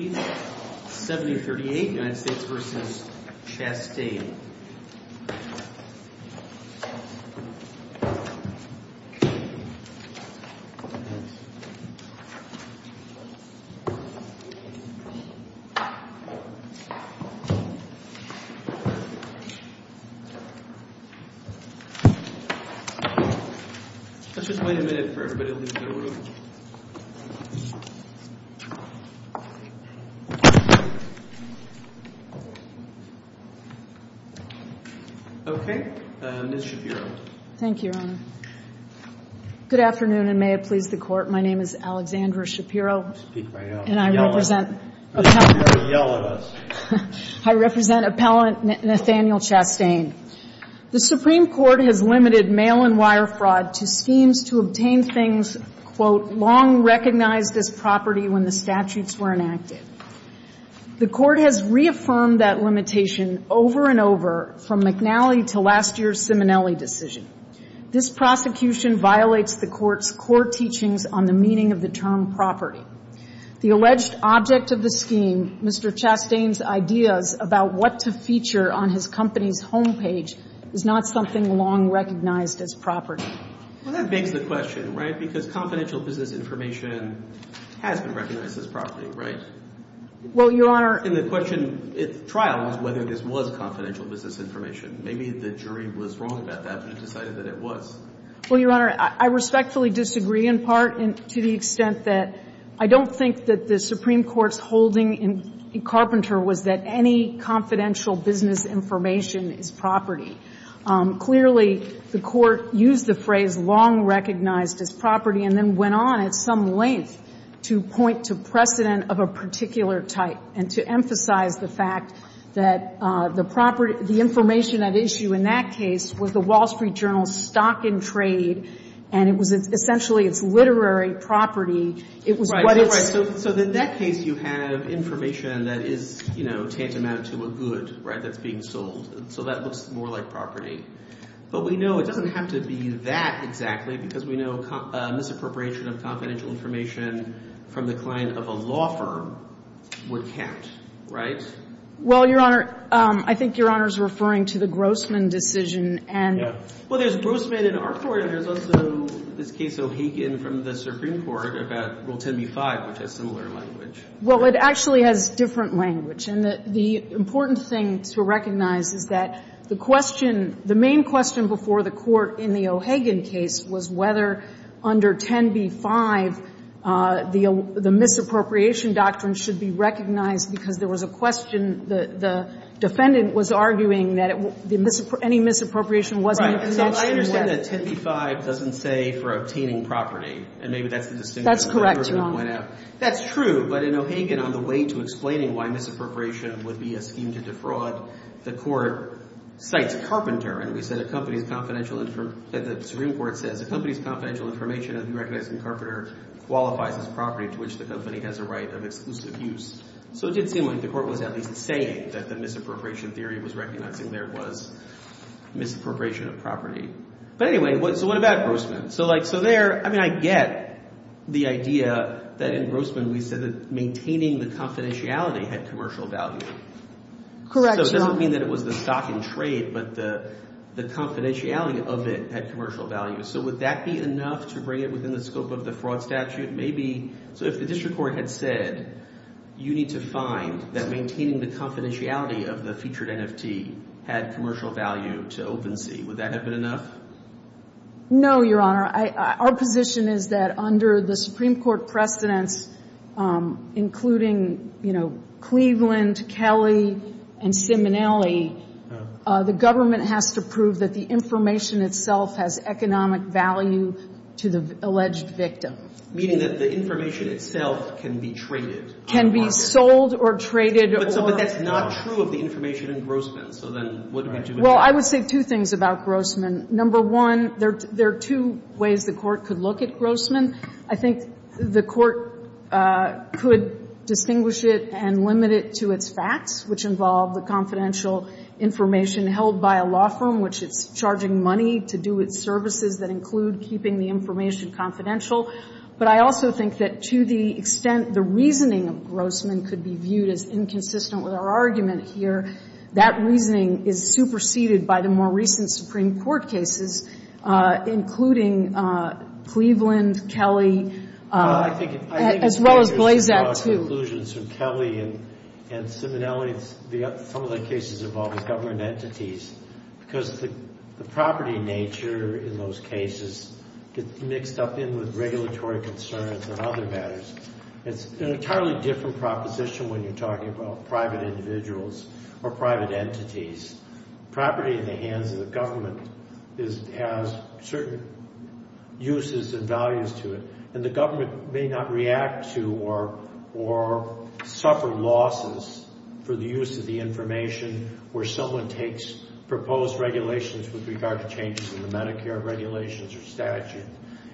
Let's just wait a minute for everybody to leave the room. Okay. Ms. Shapiro. Thank you, Your Honor. Good afternoon, and may it please the Court. My name is Alexandra Shapiro, and I represent Appellant Nathaniel Chastain. The Supreme Court has limited mail-and-wire fraud to schemes to obtain things, "'long recognized as property' when the statutes were enacted." The Court has reaffirmed that limitation over and over from McNally to last year's Simonelli decision. This prosecution violates the Court's core teachings on the meaning of the term property. The alleged object of the scheme, Mr. Chastain's ideas about what to feature on his company's home page, is not something long recognized as property. Well, that begs the question, right, because confidential business information has been recognized as property, right? Well, Your Honor — And the question at trial was whether this was confidential business information. Maybe the jury was wrong about that, but it decided that it was. Well, Your Honor, I respectfully disagree in part to the extent that I don't think that the Supreme Court's holding in Carpenter was that any confidential business information is property. Clearly, the Court used the phrase long recognized as property and then went on at some length to point to precedent of a particular type and to emphasize the fact that the property — the information at issue in that case was the Wall Street Journal's stock and trade, and it was essentially its literary property. It was what its — Right, right, right. So in that case, you have information that is, you know, tantamount to a good, right, that's being sold. So that looks more like property. But we know it doesn't have to be that exactly, because we know misappropriation of confidential information from the client of a law firm would count, right? Well, Your Honor, I think Your Honor is referring to the Grossman decision, and — Yeah. Well, there's Grossman in our court, and there's also this case O'Hagan from the Supreme Court about Rule 10b-5, which has similar language. Well, it actually has different language. And the important thing to recognize is that the question — the main question before the Court in the O'Hagan case was whether under 10b-5, the misappropriation doctrine should be recognized, because there was a question the defendant was arguing that any misappropriation wasn't mentioned. So I understand that 10b-5 doesn't say for obtaining property, and maybe that's the distinction. That's correct, Your Honor. That's true. But in O'Hagan, on the way to explaining why misappropriation would be a scheme to defraud, the Court cites Carpenter. And we said a company's confidential — the Supreme Court says a company's confidential information of you recognizing Carpenter qualifies as property to which the company has a right of exclusive use. So it did seem like the Court was at least saying that the misappropriation theory was recognizing there was misappropriation of property. But anyway, so what about Grossman? So, like, so there — I mean, I get the idea that in Grossman we said that maintaining the confidentiality had commercial value. Correct, Your Honor. So it doesn't mean that it was the stock in trade, but the confidentiality of it had commercial value. So would that be enough to bring it within the scope of the fraud statute? Maybe — so if the district court had said, you need to find that maintaining the confidentiality of the featured NFT had commercial value to OpenSea, would that have been enough? No, Your Honor. Our position is that under the Supreme Court precedents, including, you know, Cleveland, Kelly, and Simonelli, the government has to prove that the information itself has economic value to the alleged victim. Meaning that the information itself can be traded. Can be sold or traded or — But that's not true of the information in Grossman. So then what do we do about it? Well, I would say two things about Grossman. Number one, there are two ways the Court could look at Grossman. I think the Court could distinguish it and limit it to its facts, which involve the confidential information held by a law firm, which it's charging money to do its services that include keeping the information confidential. But I also think that to the extent the reasoning of Grossman could be viewed as inconsistent with our argument here, that reasoning is superseded by the more recent Supreme Court cases, including Cleveland, Kelly, as well as Blazak, too. Well, I think it's dangerous to draw conclusions from Kelly and Simonelli. Some of the cases involve government entities because the property nature in those cases gets mixed up in with regulatory concerns and other matters. It's an entirely different proposition when you're talking about private individuals or private entities. Property in the hands of the government has certain uses and values to it. And the government may not react to or suffer losses for the use of the information where someone takes proposed regulations with regard to changes in the Medicare regulations or statute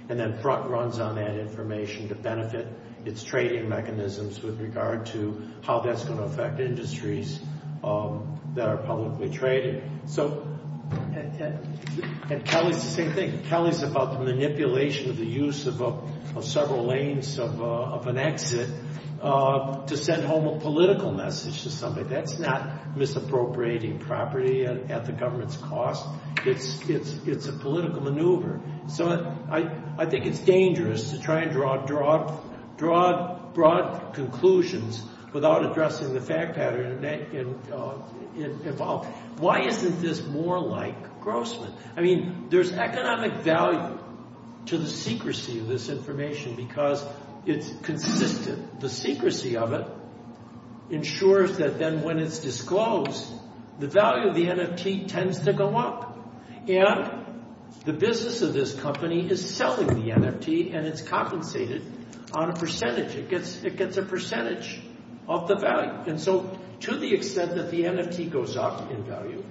and then runs on that information to benefit its trading mechanisms with regard to how that's going to affect industries that are publicly traded. And Kelly's the same thing. Kelly's about the manipulation of the use of several lanes of an exit to send home a political message to somebody. That's not misappropriating property at the government's cost. It's a political maneuver. So I think it's dangerous to try and draw broad conclusions without addressing the fact pattern involved. Why isn't this more like Grossman? I mean, there's economic value to the secrecy of this information because it's consistent. The secrecy of it ensures that then when it's disclosed, the value of the NFT tends to go up. And the business of this company is selling the NFT and it's compensated on a percentage. It gets a percentage of the value. And so to the extent that the NFT goes up in value,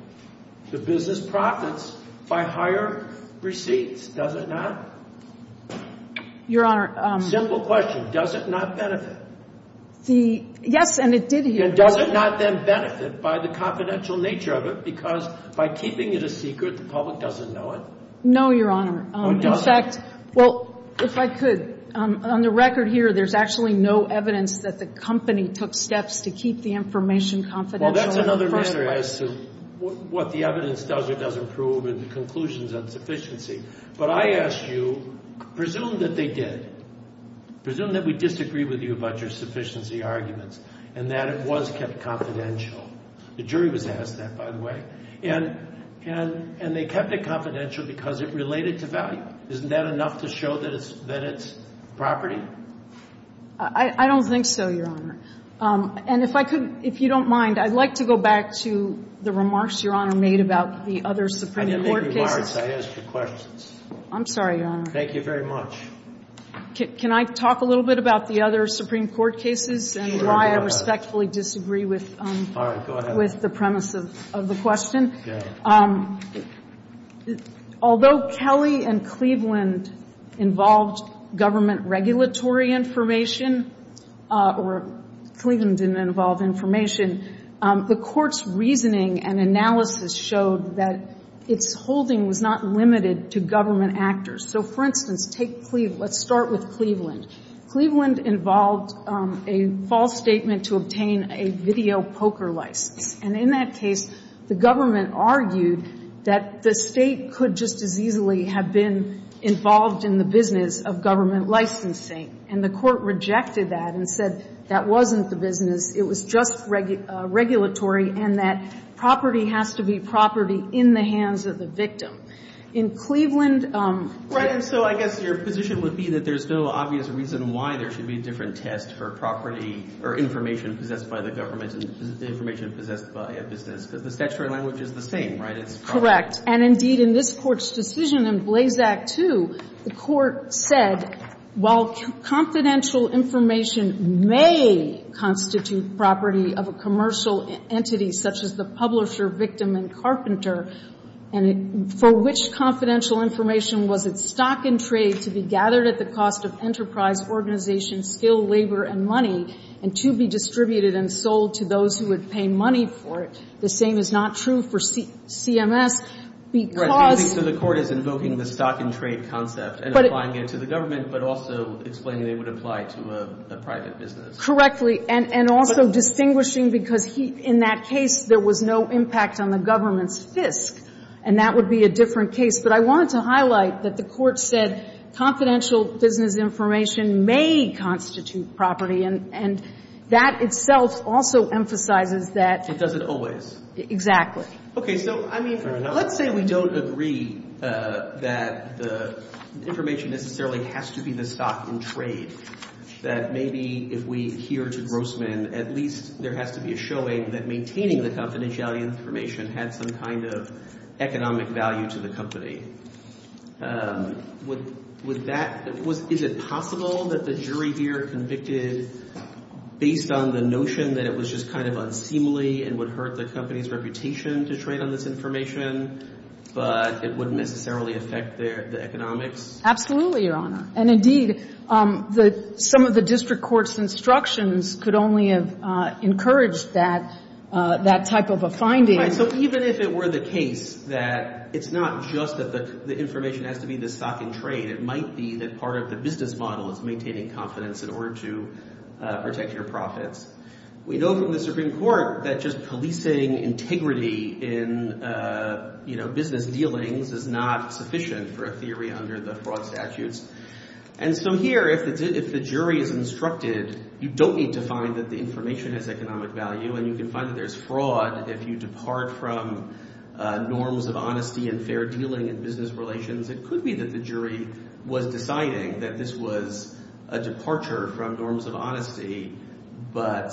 the business profits by higher receipts, does it not? Your Honor. Simple question. Does it not benefit? Yes, and it did here. Does it not then benefit by the confidential nature of it because by keeping it a secret, the public doesn't know it? No, Your Honor. In fact, well, if I could, on the record here, there's actually no evidence that the company took steps to keep the information confidential. Well, that's another matter as to what the evidence does or doesn't prove and the conclusions on sufficiency. But I ask you, presume that they did. Presume that we disagree with you about your sufficiency arguments and that it was kept confidential. The jury was asked that, by the way. And they kept it confidential because it related to value. Isn't that enough to show that it's property? I don't think so, Your Honor. And if I could, if you don't mind, I'd like to go back to the remarks Your Honor made about the other Supreme Court cases. I didn't make remarks. I asked you questions. I'm sorry, Your Honor. Thank you very much. Can I talk a little bit about the other Supreme Court cases and why I respectfully disagree with the premise of the question? Although Kelly and Cleveland involved government regulatory information, or Cleveland didn't involve information, the Court's reasoning and analysis showed that its holding was not limited to government actors. So, for instance, take Cleveland. Let's start with Cleveland. Cleveland involved a false statement to obtain a video poker license. And in that case, the government argued that the State could just as easily have been involved in the business of government licensing. And the Court rejected that and said that wasn't the business, it was just regulatory, and that property has to be property in the hands of the victim. In Cleveland Right, and so I guess your position would be that there's no obvious reason why there should be a different test for property or information possessed by the government and information possessed by a business, because the statutory language is the same, right? It's property. Correct. And, indeed, in this Court's decision in Blazak 2, the Court said, while confidential information may constitute property of a commercial entity, such as the publisher, victim, and carpenter, and for which confidential information was it stock and trade to be gathered at the cost of enterprise, organization, skill, labor, and money, and to be distributed and sold to those who would pay money for it? The same is not true for CMS, because the Court is invoking the stock and trade concept and applying it to the government, but also explaining they would apply to a private business. Correctly. And also distinguishing, because in that case, there was no impact on the government's fisc, and that would be a different case. But I wanted to highlight that the Court said confidential business information may constitute property, and that itself also emphasizes that. It doesn't always. Exactly. Okay. So, I mean, let's say we don't agree that the information necessarily has to be the least, there has to be a showing that maintaining the confidentiality information had some kind of economic value to the company. Would that – is it possible that the jury here convicted based on the notion that it was just kind of unseemly and would hurt the company's reputation to trade on this information, but it wouldn't necessarily affect the economics? Absolutely, Your Honor. And indeed, some of the district court's instructions could only have encouraged that type of a finding. Right. So even if it were the case that it's not just that the information has to be the stock and trade, it might be that part of the business model is maintaining confidence in order to protect your profits. We know from the Supreme Court that just policing integrity in business dealings is not sufficient for a theory under the fraud statutes. And so here, if the jury is instructed, you don't need to find that the information has economic value, and you can find that there's fraud if you depart from norms of honesty and fair dealing in business relations. It could be that the jury was deciding that this was a departure from norms of honesty, but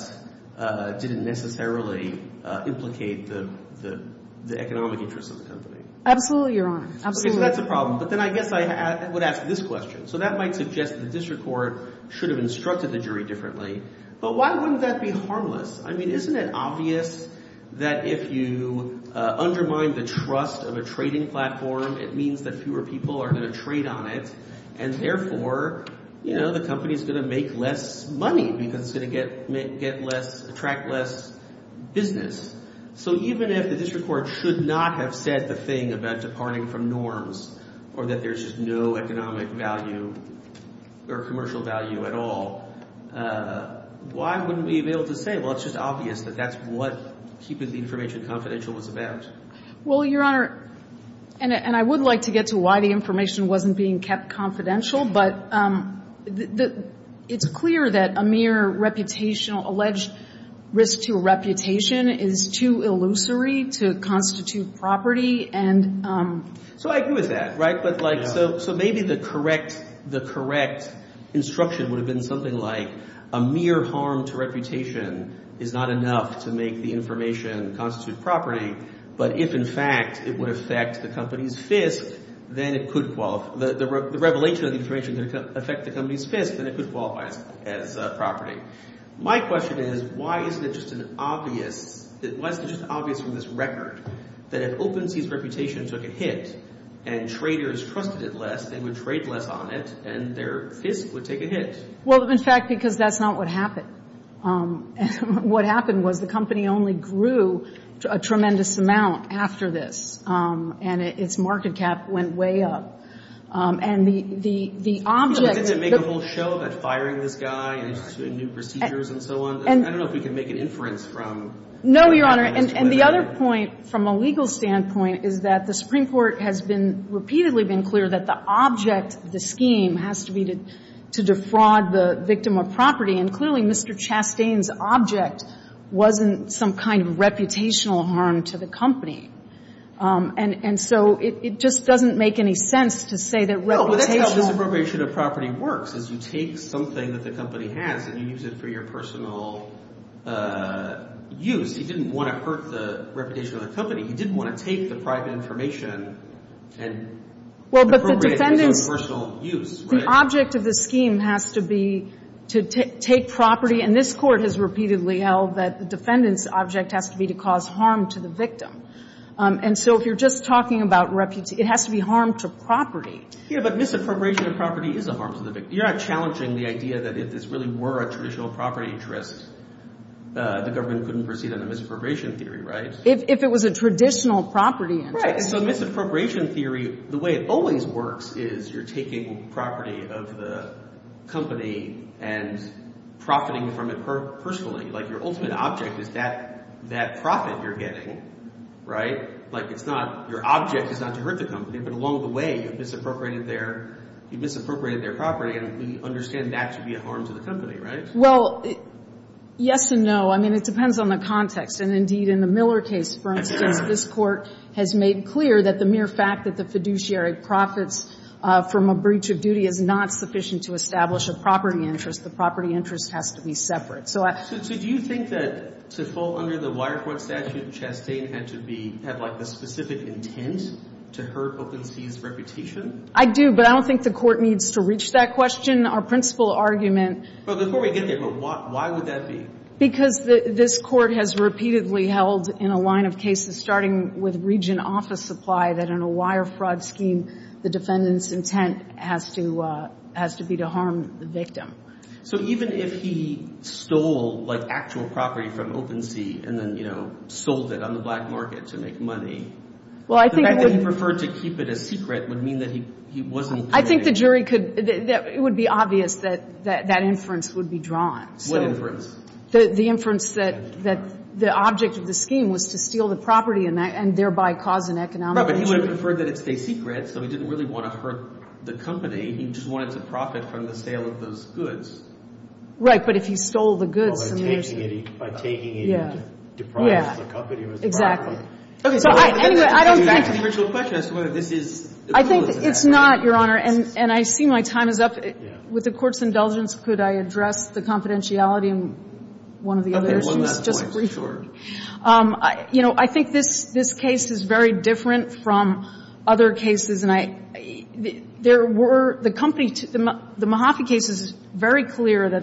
didn't necessarily implicate the economic interests of the company. Absolutely, Your Honor. Okay, so that's a problem. But then I guess I would ask this question. So that might suggest that the district court should have instructed the jury differently. But why wouldn't that be harmless? I mean, isn't it obvious that if you undermine the trust of a trading platform, it means that fewer people are going to trade on it, and therefore, you know, the company is going to make less money because it's going to attract less business. So even if the district court should not have said the thing about departing from norms, or that there's just no economic value or commercial value at all, why wouldn't we be able to say, well, it's just obvious that that's what keeping the information confidential was about? Well, Your Honor, and I would like to get to why the information wasn't being kept confidential, but it's clear that a mere reputational, alleged risk to reputation is too illusory to constitute property. So I agree with that, right? So maybe the correct instruction would have been something like a mere harm to reputation is not enough to make the information constitute property. But if, in fact, it would affect the company's fist, then it could qualify. The revelation of the information could affect the company's fist, then it could qualify as property. My question is, why isn't it just obvious from this record that if OpenSea's reputation took a hit and traders trusted it less, they would trade less on it, and their fist would take a hit? Well, in fact, because that's not what happened. What happened was the company only grew a tremendous amount after this, and its market cap went way up. Excuse me. Didn't it make a whole show about firing this guy and new procedures and so on? I don't know if we can make an inference from that. No, Your Honor. And the other point from a legal standpoint is that the Supreme Court has been repeatedly been clear that the object of the scheme has to be to defraud the victim of property. And clearly, Mr. Chastain's object wasn't some kind of reputational harm to the And so it just doesn't make any sense to say that reputational Well, that's how misappropriation of property works, is you take something that the company has and you use it for your personal use. He didn't want to hurt the reputation of the company. He didn't want to take the private information and appropriate it for his own personal use. The object of the scheme has to be to take property, and this Court has repeatedly held that the defendant's object has to be to cause harm to the victim. And so if you're just talking about reputation, it has to be harm to property. Yeah, but misappropriation of property is a harm to the victim. You're not challenging the idea that if this really were a traditional property interest, the government couldn't proceed under misappropriation theory, right? If it was a traditional property interest. Right. So misappropriation theory, the way it always works is you're taking property of the company and profiting from it personally. Like, your ultimate object is that profit you're getting, right? Like, it's not your object is not to hurt the company, but along the way, you've misappropriated their property, and we understand that to be a harm to the company, right? Well, yes and no. I mean, it depends on the context. And indeed, in the Miller case, for instance, this Court has made clear that the mere fact that the fiduciary profits from a breach of duty is not sufficient to establish a property interest. The property interest has to be separate. So do you think that to fall under the wire fraud statute, Chastain had to be – had, like, the specific intent to hurt OpenSea's reputation? I do, but I don't think the Court needs to reach that question. Our principal argument – Well, before we get there, why would that be? Because this Court has repeatedly held in a line of cases, starting with region office supply, that in a wire fraud scheme, the defendant's intent has to be to harm the victim. So even if he stole, like, actual property from OpenSea and then, you know, sold it on the black market to make money, the fact that he preferred to keep it a secret would mean that he wasn't doing it. I think the jury could – it would be obvious that that inference would be drawn. What inference? The inference that the object of the scheme was to steal the property and thereby cause an economic injury. But he would have preferred that it stay secret, so he didn't really want to hurt the company. He just wanted to profit from the sale of those goods. But if he stole the goods, then there's – By taking it – by taking it and depriving the company of its property. Okay. So anyway, I don't think – I'm asking the original question as to whether this is – I think it's not, Your Honor. And I see my time is up. With the Court's indulgence, could I address the confidentiality and one of the other issues? Okay. One last point, sure. Just briefly. You know, I think this case is very different from other cases. And I – there were – the company – the Mahaffey case is very clear that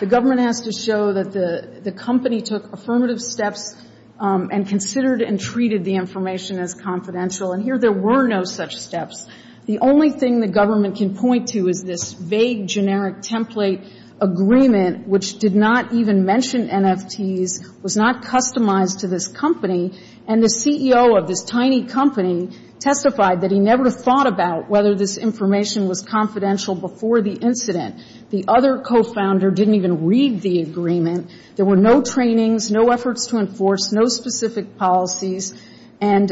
the government has to show that the company took affirmative steps and considered and treated the information as confidential. And here there were no such steps. The only thing the government can point to is this vague, generic template agreement which did not even mention NFTs, was not customized to this company. And the CEO of this tiny company testified that he never thought about whether this information was confidential before the incident. The other co-founder didn't even read the agreement. There were no trainings, no efforts to enforce, no specific policies. And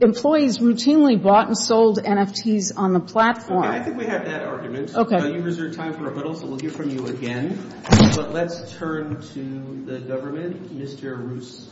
employees routinely bought and sold NFTs on the platform. I think we have that argument. Okay. You've reserved time for rebuttal, so we'll hear from you again. But let's turn to the government. Mr. Roos.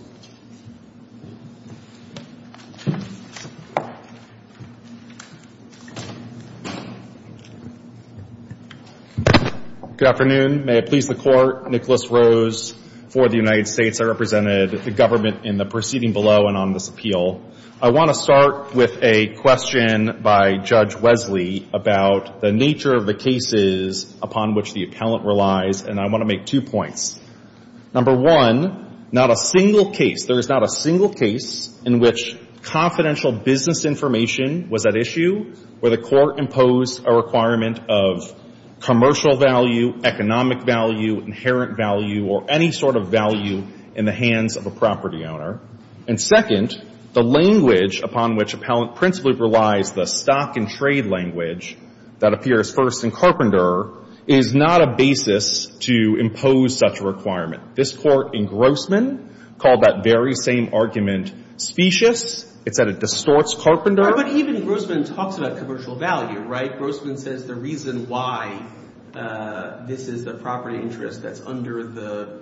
Good afternoon. May it please the Court. Nicholas Roos for the United States. I represented the government in the proceeding below and on this appeal. I want to start with a question by Judge Wesley about the nature of the cases upon which the appellant relies, and I want to make two points. Number one, not a single case, there is not a single case in which confidential business information was at issue where the Court imposed a requirement of commercial value, economic value, inherent value, or any sort of value in the hands of a property owner. And second, the language upon which appellant principally relies, the stock and trade language that appears first in Carpenter, is not a basis to impose such a requirement. This Court in Grossman called that very same argument specious. It said it distorts Carpenter. But even Grossman talks about commercial value, right? Grossman says the reason why this is the property interest that's under the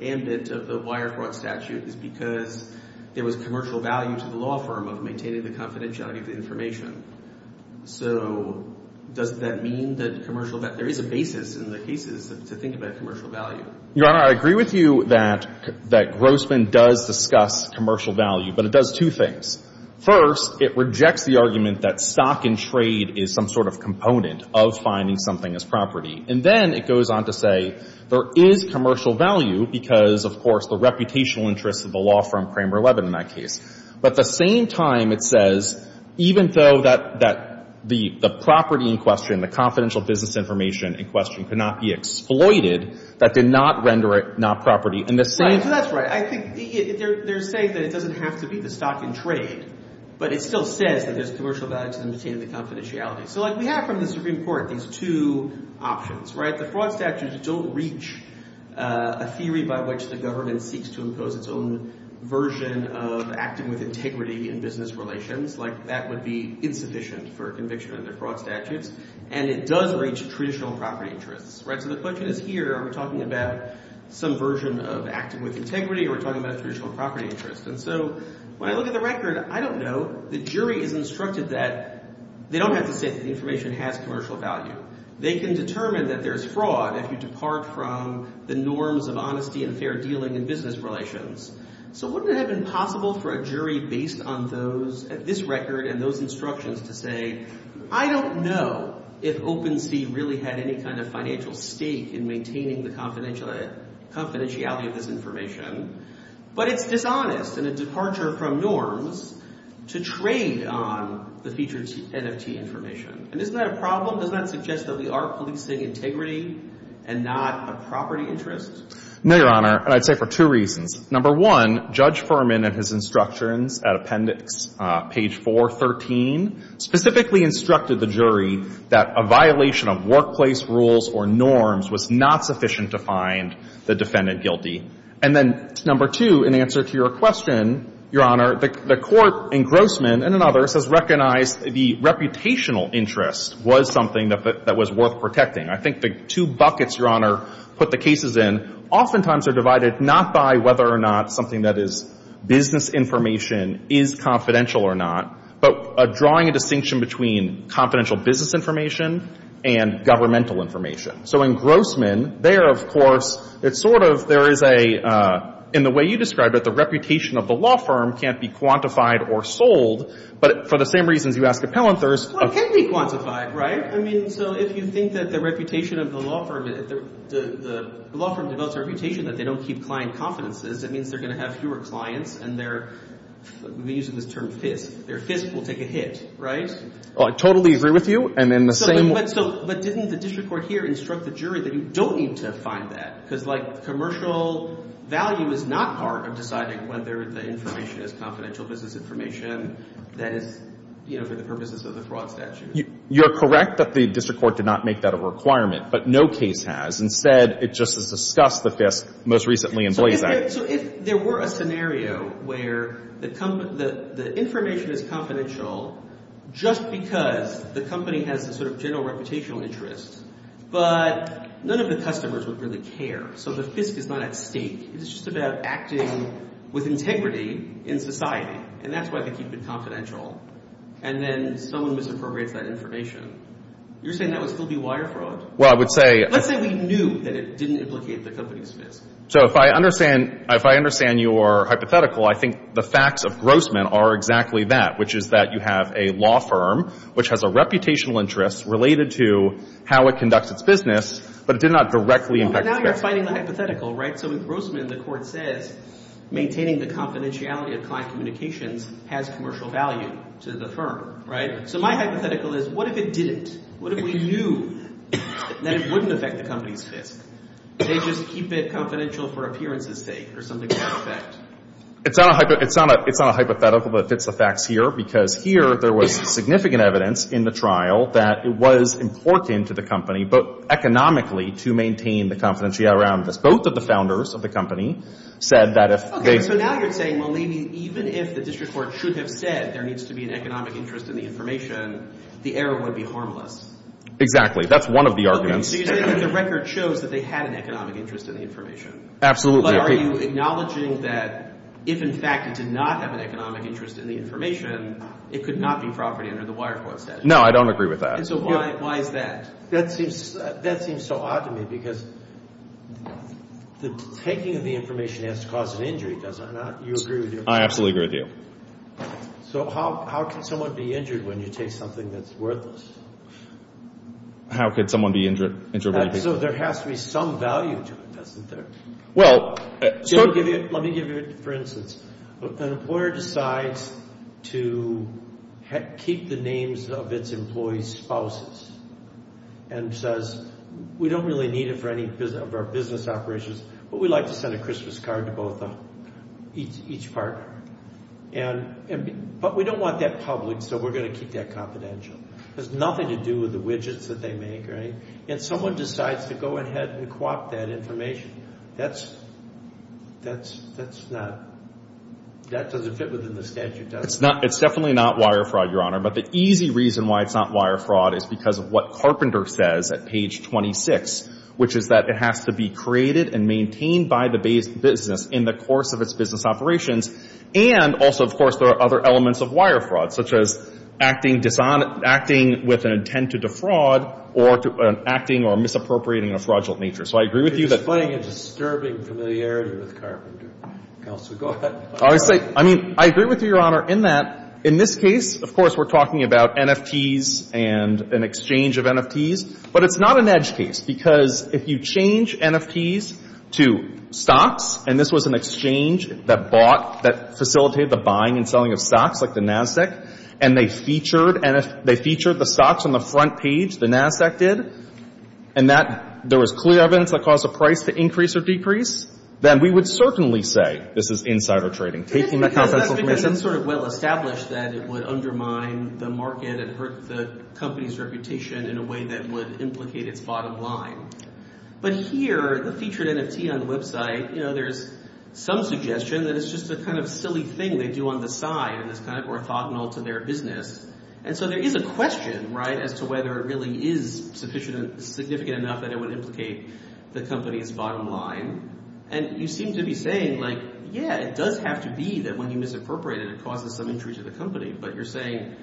ambit of the wire fraud statute is because there was commercial value to the law firm of maintaining the confidentiality of the information. So does that mean that there is a basis in the cases to think about commercial value? Your Honor, I agree with you that Grossman does discuss commercial value, but it does two things. First, it rejects the argument that stock and trade is some sort of component of finding something as property. And then it goes on to say there is commercial value because, of course, the reputational interests of the law firm Cramer Levin in that case. But at the same time, it says even though that the property in question, the confidential business information in question, could not be exploited, that did not render it not property. So that's right. I think they're saying that it doesn't have to be the stock and trade, but it still says that there's commercial value to maintain the confidentiality. So like we have from the Supreme Court these two options, right? The fraud statutes don't reach a theory by which the government seeks to impose its own version of acting with integrity in business relations, like that would be insufficient for conviction under fraud statutes. And it does reach traditional property interests, right? So the question is here are we talking about some version of acting with integrity or are we talking about traditional property interests? And so when I look at the record, I don't know. The jury is instructed that they don't have to say that the information has commercial value. They can determine that there is fraud if you depart from the norms of honesty and fair dealing in business relations. So wouldn't it have been possible for a jury based on those, this record and those instructions to say, I don't know if OpenSea really had any kind of financial stake in maintaining the confidentiality of this information, but it's dishonest in a departure from norms to trade on the featured NFT information. And isn't that a problem? Does that suggest that we are policing integrity and not a property interest? No, Your Honor. And I'd say for two reasons. Number one, Judge Furman in his instructions at appendix page 413 specifically instructed the jury that a violation of workplace rules or norms was not sufficient to find the defendant guilty. And then number two, in answer to your question, Your Honor, the court in Grossman and in others has recognized the reputational interest was something that was worth protecting. I think the two buckets, Your Honor, put the cases in oftentimes are divided not by whether or not something that is business information is confidential or not, but drawing a distinction between confidential business information and governmental information. So in Grossman, there, of course, it's sort of, there is a, in the way you described it, the reputation of the law firm can't be quantified or sold, but for the same reasons you asked at Pallanthurst. Well, it can be quantified, right? I mean, so if you think that the reputation of the law firm, the law firm develops a reputation that they don't keep client confidences, it means they're going to have fewer clients and their, we're using this term fist, their fist will take a hit, right? Well, I totally agree with you. And in the same way. So, but didn't the district court here instruct the jury that you don't need to find that? Because like commercial value is not part of deciding whether the information is confidential business information that is, you know, for the purposes of the fraud statute. You're correct that the district court did not make that a requirement, but no case has. Instead, it just has discussed the fist most recently in Blazak. So if there were a scenario where the information is confidential just because the company has a sort of general reputational interest, but none of the customers would really care. So the fist is not at stake. It's just about acting with integrity in society. And that's why they keep it confidential. And then someone misappropriates that information. You're saying that would still be wire fraud? Well, I would say. Let's say we knew that it didn't implicate the company's fist. So if I understand, if I understand your hypothetical, I think the facts of Grossman are exactly that, which is that you have a law firm, which has a reputational interest related to how it conducts its business, but it did not directly impact. But now you're finding the hypothetical, right? So in Grossman, the court says maintaining the confidentiality of client communications has commercial value to the firm, right? So my hypothetical is what if it didn't? What if we knew that it wouldn't affect the company's fist? They just keep it confidential for appearance's sake or something to that effect? It's not a hypothetical, but it fits the facts here because here there was significant evidence in the trial that it was important to the company, both economically to maintain the confidentiality around this. Both of the founders of the company said that if they... So now you're saying, well, maybe even if the district court should have said there needs to be an economic interest in the information, the error would be harmless. Exactly. That's one of the arguments. So you're saying that the record shows that they had an economic interest in the information? Absolutely. But are you acknowledging that if, in fact, it did not have an economic interest in the information, it could not be property under the wire fraud statute? No, I don't agree with that. And so why is that? That seems so odd to me because the taking of the information has to cause an injury, does it not? You agree with me? I absolutely agree with you. So how can someone be injured when you take something that's worthless? How could someone be injured? So there has to be some value to it, doesn't there? Well... Let me give you, for instance, an employer decides to keep the names of its employees' spouses and says, we don't really need it for any of our business operations, but we'd like to send a Christmas card to each partner. But we don't want that public, so we're going to keep that confidential. It has nothing to do with the widgets that they make or anything. And someone decides to go ahead and co-opt that information. That's not... That doesn't fit within the statute, does it? It's definitely not wire fraud, Your Honor. But the easy reason why it's not wire fraud is because of what Carpenter says at page 26, which is that it has to be created and maintained by the business in the course of its business operations, and also, of course, there are other elements of wire fraud, such as acting with an intent to defraud or acting or misappropriating in a fraudulent nature. So I agree with you that... You're displaying a disturbing familiarity with Carpenter. Counsel, go ahead. I agree with you, Your Honor, in that in this case, of course, we're talking about NFTs and an exchange of NFTs, but it's not an edge case, because if you change NFTs to stocks, and this was an exchange that bought, that facilitated the buying and selling of stocks, like the NASDAQ, and they featured the stocks on the front page, the NASDAQ did, and there was clear evidence that caused the price to increase or decrease, then we would certainly say this is insider trading. It's sort of well established that it would undermine the market and hurt the company's reputation in a way that would implicate its bottom line. But here, the featured NFT on the website, there's some suggestion that it's just a kind of silly thing they do on the side, and it's kind of orthogonal to their business, and so there is a question as to whether it really is significant enough that it would implicate the company's bottom line, and you seem to be saying, like, yeah, it does have to be that when you misappropriate it, it causes some injury to the company, but you're saying,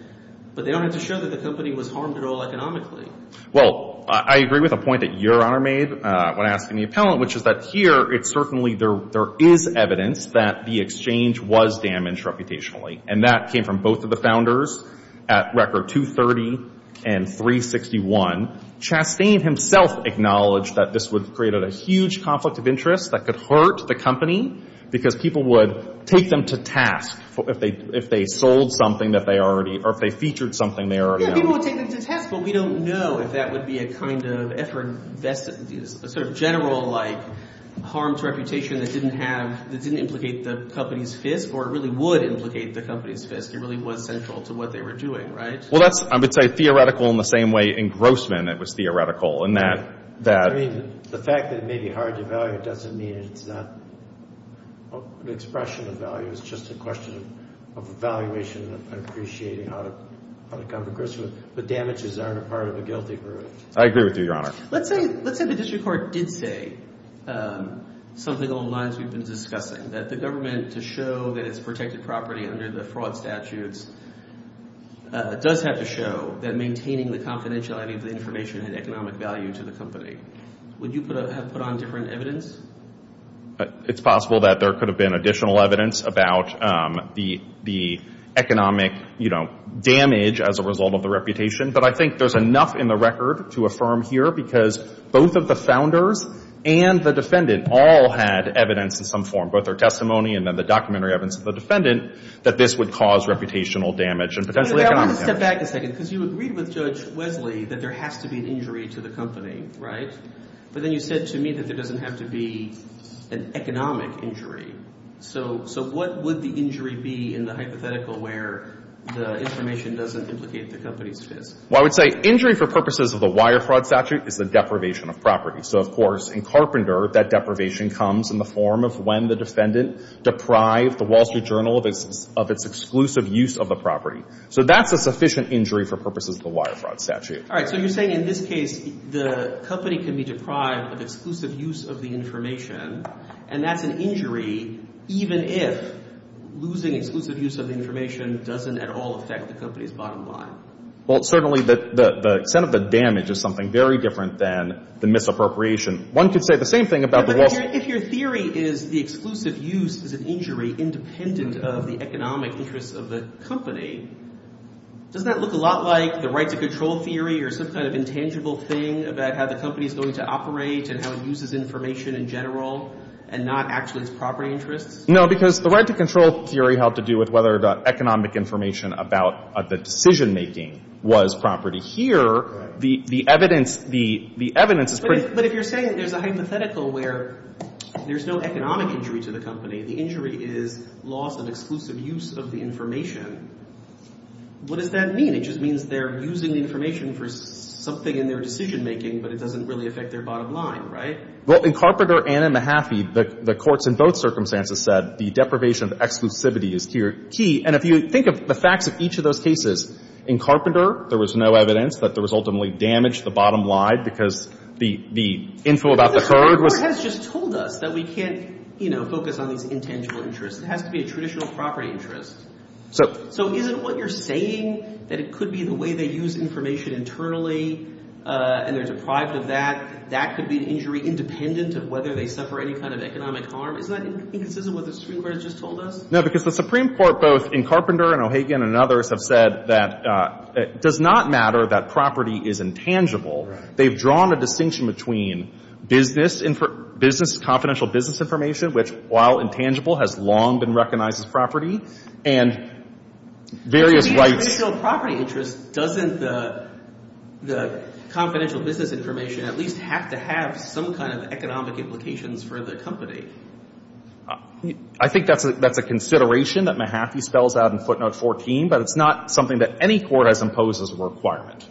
but they don't have to show that the company was harmed at all economically. Well, I agree with a point that Your Honor made when asking the appellant, which is that here, it's certainly, there is evidence that the exchange was damaged reputationally, and that came from both of the founders at record 230 and 361. Chastain himself acknowledged that this would create a huge conflict of interest that could hurt the company, because people would take them to task if they sold something that they already, or if they featured something they already owned. Yeah, people would take them to task, but we don't know if that would be a kind of effort, sort of general, like, harm to reputation that didn't have, that didn't implicate the company's fist, or really would implicate the company's fist. It really was central to what they were doing, right? Well, that's, I would say, theoretical in the same way in Grossman it was theoretical, in that, that. I mean, the fact that it may be hard to value doesn't mean it's not an expression of value. It's just a question of evaluation and appreciating how to come to Grossman. But damages aren't a part of a guilty verdict. I agree with you, Your Honor. Let's say, let's say the district court did say something along the lines we've been discussing, that the government, to show that it's protected property under the fraud statutes, does have to show that maintaining the confidentiality of the information had economic value to the company. Would you have put on different evidence? It's possible that there could have been additional evidence about the economic, you know, damage as a result of the reputation. But I think there's enough in the record to affirm here, because both of the founders and the defendant all had evidence in some form, both their testimony and then the documentary evidence of the defendant, that this would cause reputational damage and potentially economic damage. I want to step back a second, because you agreed with Judge Wesley that there has to be an injury to the company, right? But then you said to me that there doesn't have to be an economic injury. So what would the injury be in the hypothetical where the information doesn't implicate the company's face? Well, I would say injury for purposes of the wire fraud statute is the deprivation of property. So, of course, in Carpenter, that deprivation comes in the form of when the defendant deprived the Wall Street Journal of its exclusive use of the property. So that's a sufficient injury for purposes of the wire fraud statute. So you're saying in this case, the company can be deprived of exclusive use of the information, and that's an injury even if losing exclusive use of the information doesn't at all affect the company's bottom line. Well, certainly the extent of the damage is something very different than the misappropriation. One could say the same thing about the Wall Street. But if your theory is the exclusive use is an injury independent of the economic interests of the company, doesn't that look a lot like the right-to-control theory or some kind of intangible thing about how the company is going to operate and how it uses information in general and not actually its property interests? No, because the right-to-control theory had to do with whether the economic information about the decision-making was property. Here, the evidence is pretty clear. But if you're saying there's a hypothetical where there's no economic injury to the information, what does that mean? It just means they're using the information for something in their decision-making, but it doesn't really affect their bottom line, right? Well, in Carpenter and in Mahaffey, the courts in both circumstances said the deprivation of exclusivity is key. And if you think of the facts of each of those cases, in Carpenter, there was no evidence that there was ultimately damage to the bottom line because the info about the third was... But the court has just told us that we can't, you know, focus on these intangible interests. It has to be a traditional property interest. So isn't what you're saying that it could be the way they use information internally and they're deprived of that, that could be an injury independent of whether they suffer any kind of economic harm? Isn't that inconsistent with what the Supreme Court has just told us? No, because the Supreme Court, both in Carpenter and O'Hagan and others, have said that it does not matter that property is intangible. They've drawn a distinction between business, confidential business information, which, while intangible, has long been recognized as property, and various rights... If it's a traditional property interest, doesn't the confidential business information at least have to have some kind of economic implications for the company? I think that's a consideration that Mahaffey spells out in footnote 14, but it's not something that any court has imposed as a requirement.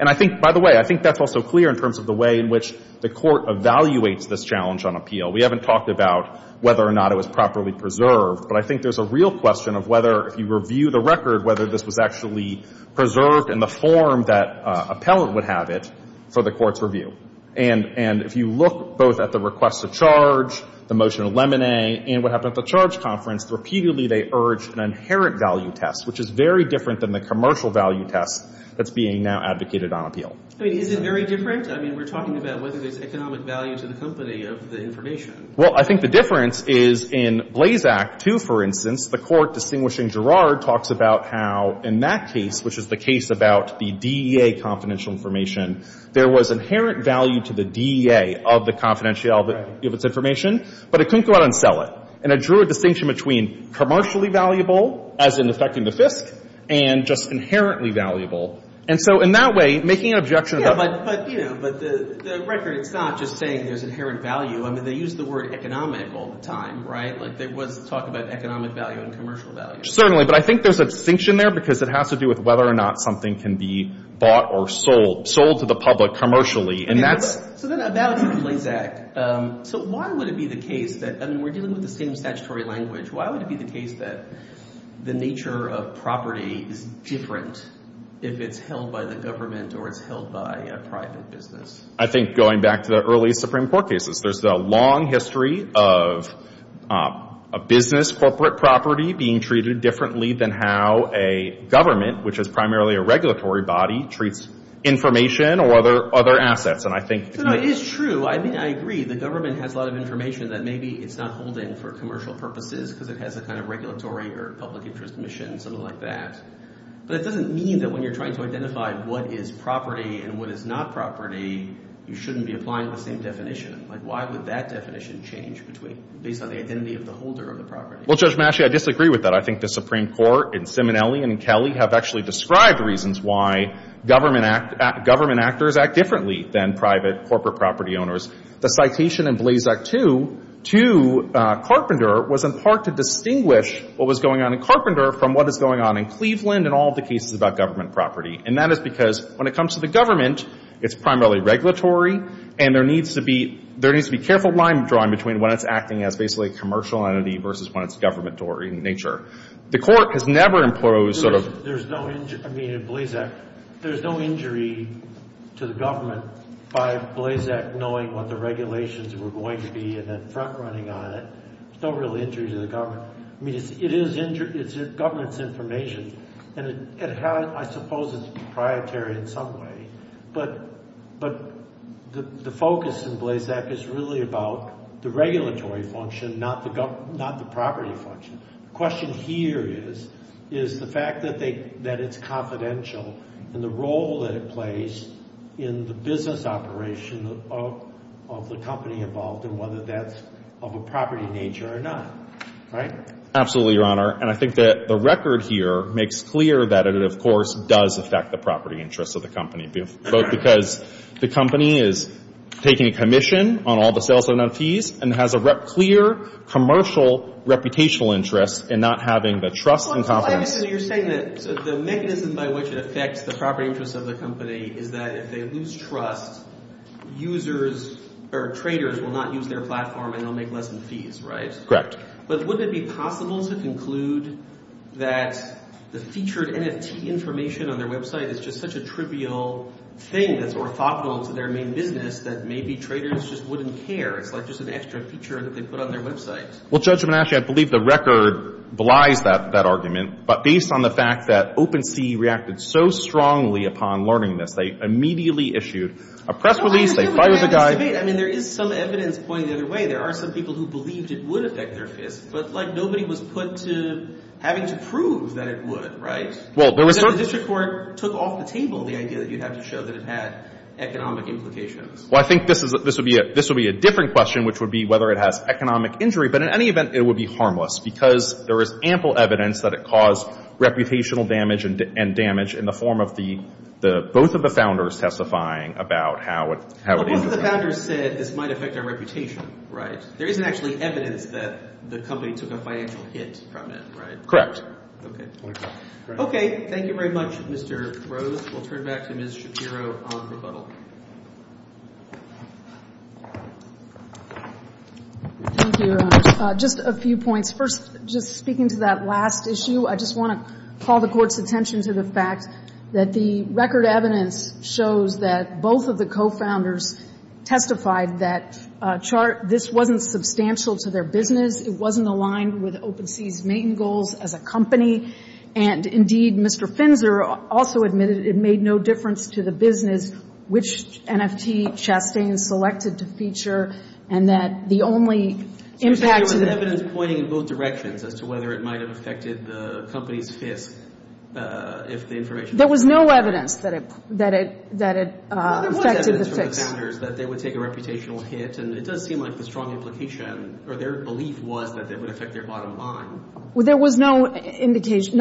And I think, by the way, I think that's also clear in terms of the way in which the court evaluates this challenge on appeal. We haven't talked about whether or not it was properly preserved, but I think there's a real question of whether, if you review the record, whether this was actually preserved in the form that appellant would have it for the court's review. And if you look both at the request to charge, the motion of lemonade, and what happened at the charge conference, repeatedly they urged an inherent value test, which is very different than the commercial value test that's being now advocated on appeal. I mean, is it very different? I mean, we're talking about whether there's economic value to the company of the information. Well, I think the difference is in Blazak, too, for instance, the court distinguishing Girard talks about how, in that case, which is the case about the DEA confidential information, there was inherent value to the DEA of the confidentiality of its information, but it couldn't go out and sell it. And it drew a distinction between commercially valuable, as in affecting the FISC, and just inherently valuable. And so in that way, making an objection to that. Yeah, but, you know, but the record, it's not just saying there's inherent value. I mean, they use the word economic all the time, right? Like, there was talk about economic value and commercial value. Certainly. But I think there's a distinction there because it has to do with whether or not something can be bought or sold, sold to the public commercially. And that's... So then, about the Blazak, so why would it be the case that, I mean, we're dealing with the same statutory language, why would it be the case that the nature of property is different if it's held by the government or it's held by a private business? I think going back to the early Supreme Court cases, there's a long history of a business corporate property being treated differently than how a government, which is primarily a regulatory body, treats information or other assets. And I think... So, no, it's true. I mean, I agree, the government has a lot of information that maybe it's not holding for commercial purposes because it has a kind of regulatory or public interest mission, something like that. But it doesn't mean that when you're trying to identify what is property and what is not property, you shouldn't be applying the same definition. Like, why would that definition change based on the identity of the holder of the property? Well, Judge Masci, I disagree with that. I think the Supreme Court and Simonelli and Kelly have actually described reasons why government actors act differently than private corporate property owners. The citation in Blazak 2 to Carpenter was in part to distinguish what was going on in Cleveland and all of the cases about government property. And that is because when it comes to the government, it's primarily regulatory, and there needs to be careful line drawing between when it's acting as basically a commercial entity versus when it's a governmentary in nature. The Court has never imposed sort of... There's no... I mean, in Blazak, there's no injury to the government by Blazak knowing what the regulations were going to be and then front-running on it. There's no real injury to the government. I mean, it is government's information, and I suppose it's proprietary in some way. But the focus in Blazak is really about the regulatory function, not the property function. The question here is the fact that it's confidential and the role that it plays in the business operation of the company involved and whether that's of a property nature or not. Right? Absolutely, Your Honor. And I think that the record here makes clear that it, of course, does affect the property interests of the company, both because the company is taking a commission on all the sales and on fees and has a clear commercial reputational interest in not having the trust and confidence... Wait a minute. You're saying that the mechanism by which it affects the property interests of the company is that if they lose trust, users or traders will not use their platform, and they'll make less fees, right? Correct. But wouldn't it be possible to conclude that the featured NFT information on their website is just such a trivial thing that's orthogonal to their main business that maybe traders just wouldn't care? It's like just an extra feature that they put on their website. Well, Judge Menasche, I believe the record belies that argument. But based on the fact that OpenSea reacted so strongly upon learning this, they immediately issued a press release. They fired the guy. I mean, there is some evidence pointing the other way. There are some people who believed it would affect their fists. But, like, nobody was put to having to prove that it would, right? Well, there was... The district court took off the table the idea that you'd have to show that it had economic implications. Well, I think this would be a different question, which would be whether it has economic injury. But in any event, it would be harmless, because there is ample evidence that it caused reputational damage and damage in the form of both of the founders testifying about how it... One of the founders said this might affect our reputation, right? There isn't actually evidence that the company took a financial hit from it, right? Correct. Okay. Okay. Thank you very much, Mr. Rose. We'll turn back to Ms. Shapiro on rebuttal. Thank you, Your Honor. Just a few points. First, just speaking to that last issue, I just want to call the Court's attention to the fact that the record evidence shows that both of the co-founders testified that this wasn't substantial to their business, it wasn't aligned with OpenSea's main goals as a company, and indeed, Mr. Finzer also admitted it made no difference to the business which NFT chesting selected to feature, and that the only impact... There was evidence pointing in both directions as to whether it might have affected the company's FISC if the information... There was no evidence that it affected the FISC. Well, there was evidence from the founders that they would take a reputational hit, and it does seem like the strong implication or their belief was that it would affect their bottom line. Well, there was no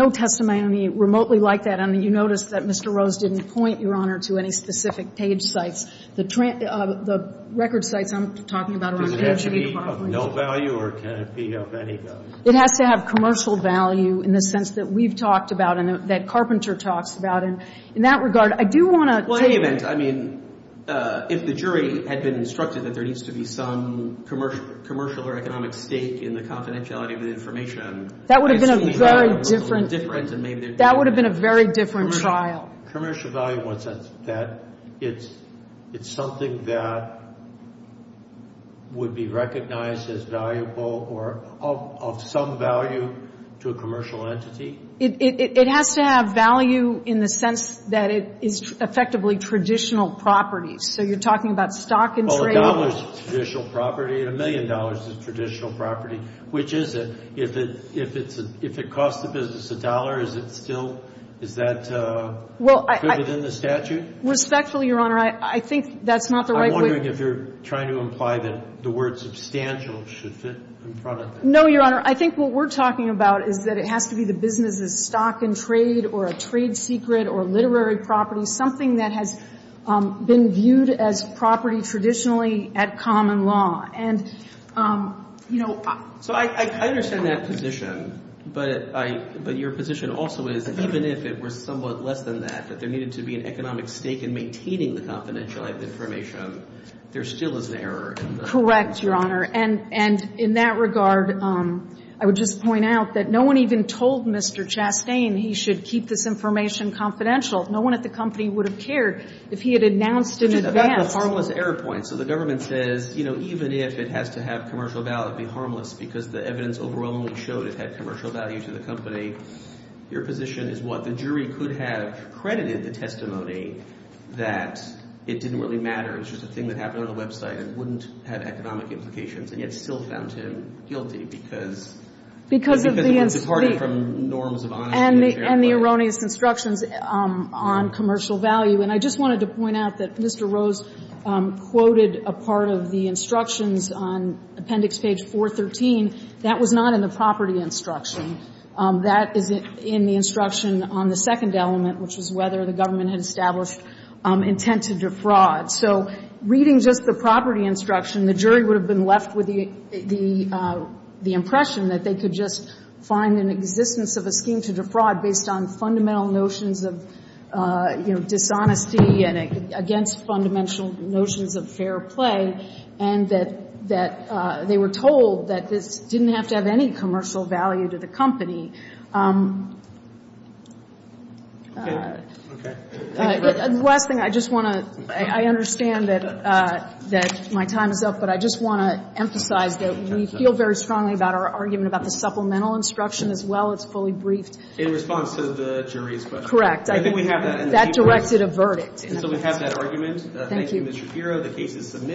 testimony remotely like that, and you notice that Mr. Rose didn't point, Your Honor, to any specific page sites. The record sites I'm talking about around... Does it have to be of no value or can it be of any value? It has to have commercial value in the sense that we've talked about and that Carpenter talks about, and in that regard, I do want to... Well, in any event, I mean, if the jury had been instructed that there needs to be some commercial or economic stake in the confidentiality of the information... That would have been a very different... That would have been a very different trial. Commercial value, what's that? It's something that would be recognized as valuable or of some value to a commercial entity? It has to have value in the sense that it is effectively traditional property. So you're talking about stock and trade... Well, a dollar is traditional property, and a million dollars is traditional property. Which is it? If it costs the business a dollar, is it still... Is that included in the statute? Respectfully, Your Honor, I think that's not the right way... I'm wondering if you're trying to imply that the word substantial should fit in front of it. No, Your Honor. I think what we're talking about is that it has to be the business's stock and trade or a trade secret or literary property, something that has been viewed as property traditionally at common law. So I understand that position, but your position also is that even if it were somewhat less than that, that there needed to be an economic stake in maintaining the confidential information, there still is an error in the... Correct, Your Honor. And in that regard, I would just point out that no one even told Mr. Chastain he should keep this information confidential. No one at the company would have cared if he had announced in advance... So the government says, you know, even if it has to have commercial value, it'd be harmless because the evidence overwhelmingly showed it had commercial value to the company. Your position is what? The jury could have credited the testimony that it didn't really matter. It's just a thing that happened on the website. It wouldn't have economic implications and yet still found him guilty because... Because of the... Because it departed from norms of honesty... And the erroneous constructions on commercial value. And I just wanted to point out that Mr. Rose quoted a part of the instructions on appendix page 413. That was not in the property instruction. That is in the instruction on the second element, which is whether the government had established intent to defraud. So reading just the property instruction, the jury would have been left with the impression that they could just find an existence of a scheme to defraud based on fundamental notions of, you know, dishonesty and against fundamental notions of fair play, and that they were told that this didn't have to have any commercial value to the company. The last thing, I just want to... I understand that my time is up, but I just want to emphasize that we feel very strongly about our argument about the supplemental instruction as well. It's fully briefed. In response to the jury's question. Correct. I think we have that in the paper. That directed a verdict. So we have that argument. Thank you, Mr. Giro. The case is submitted.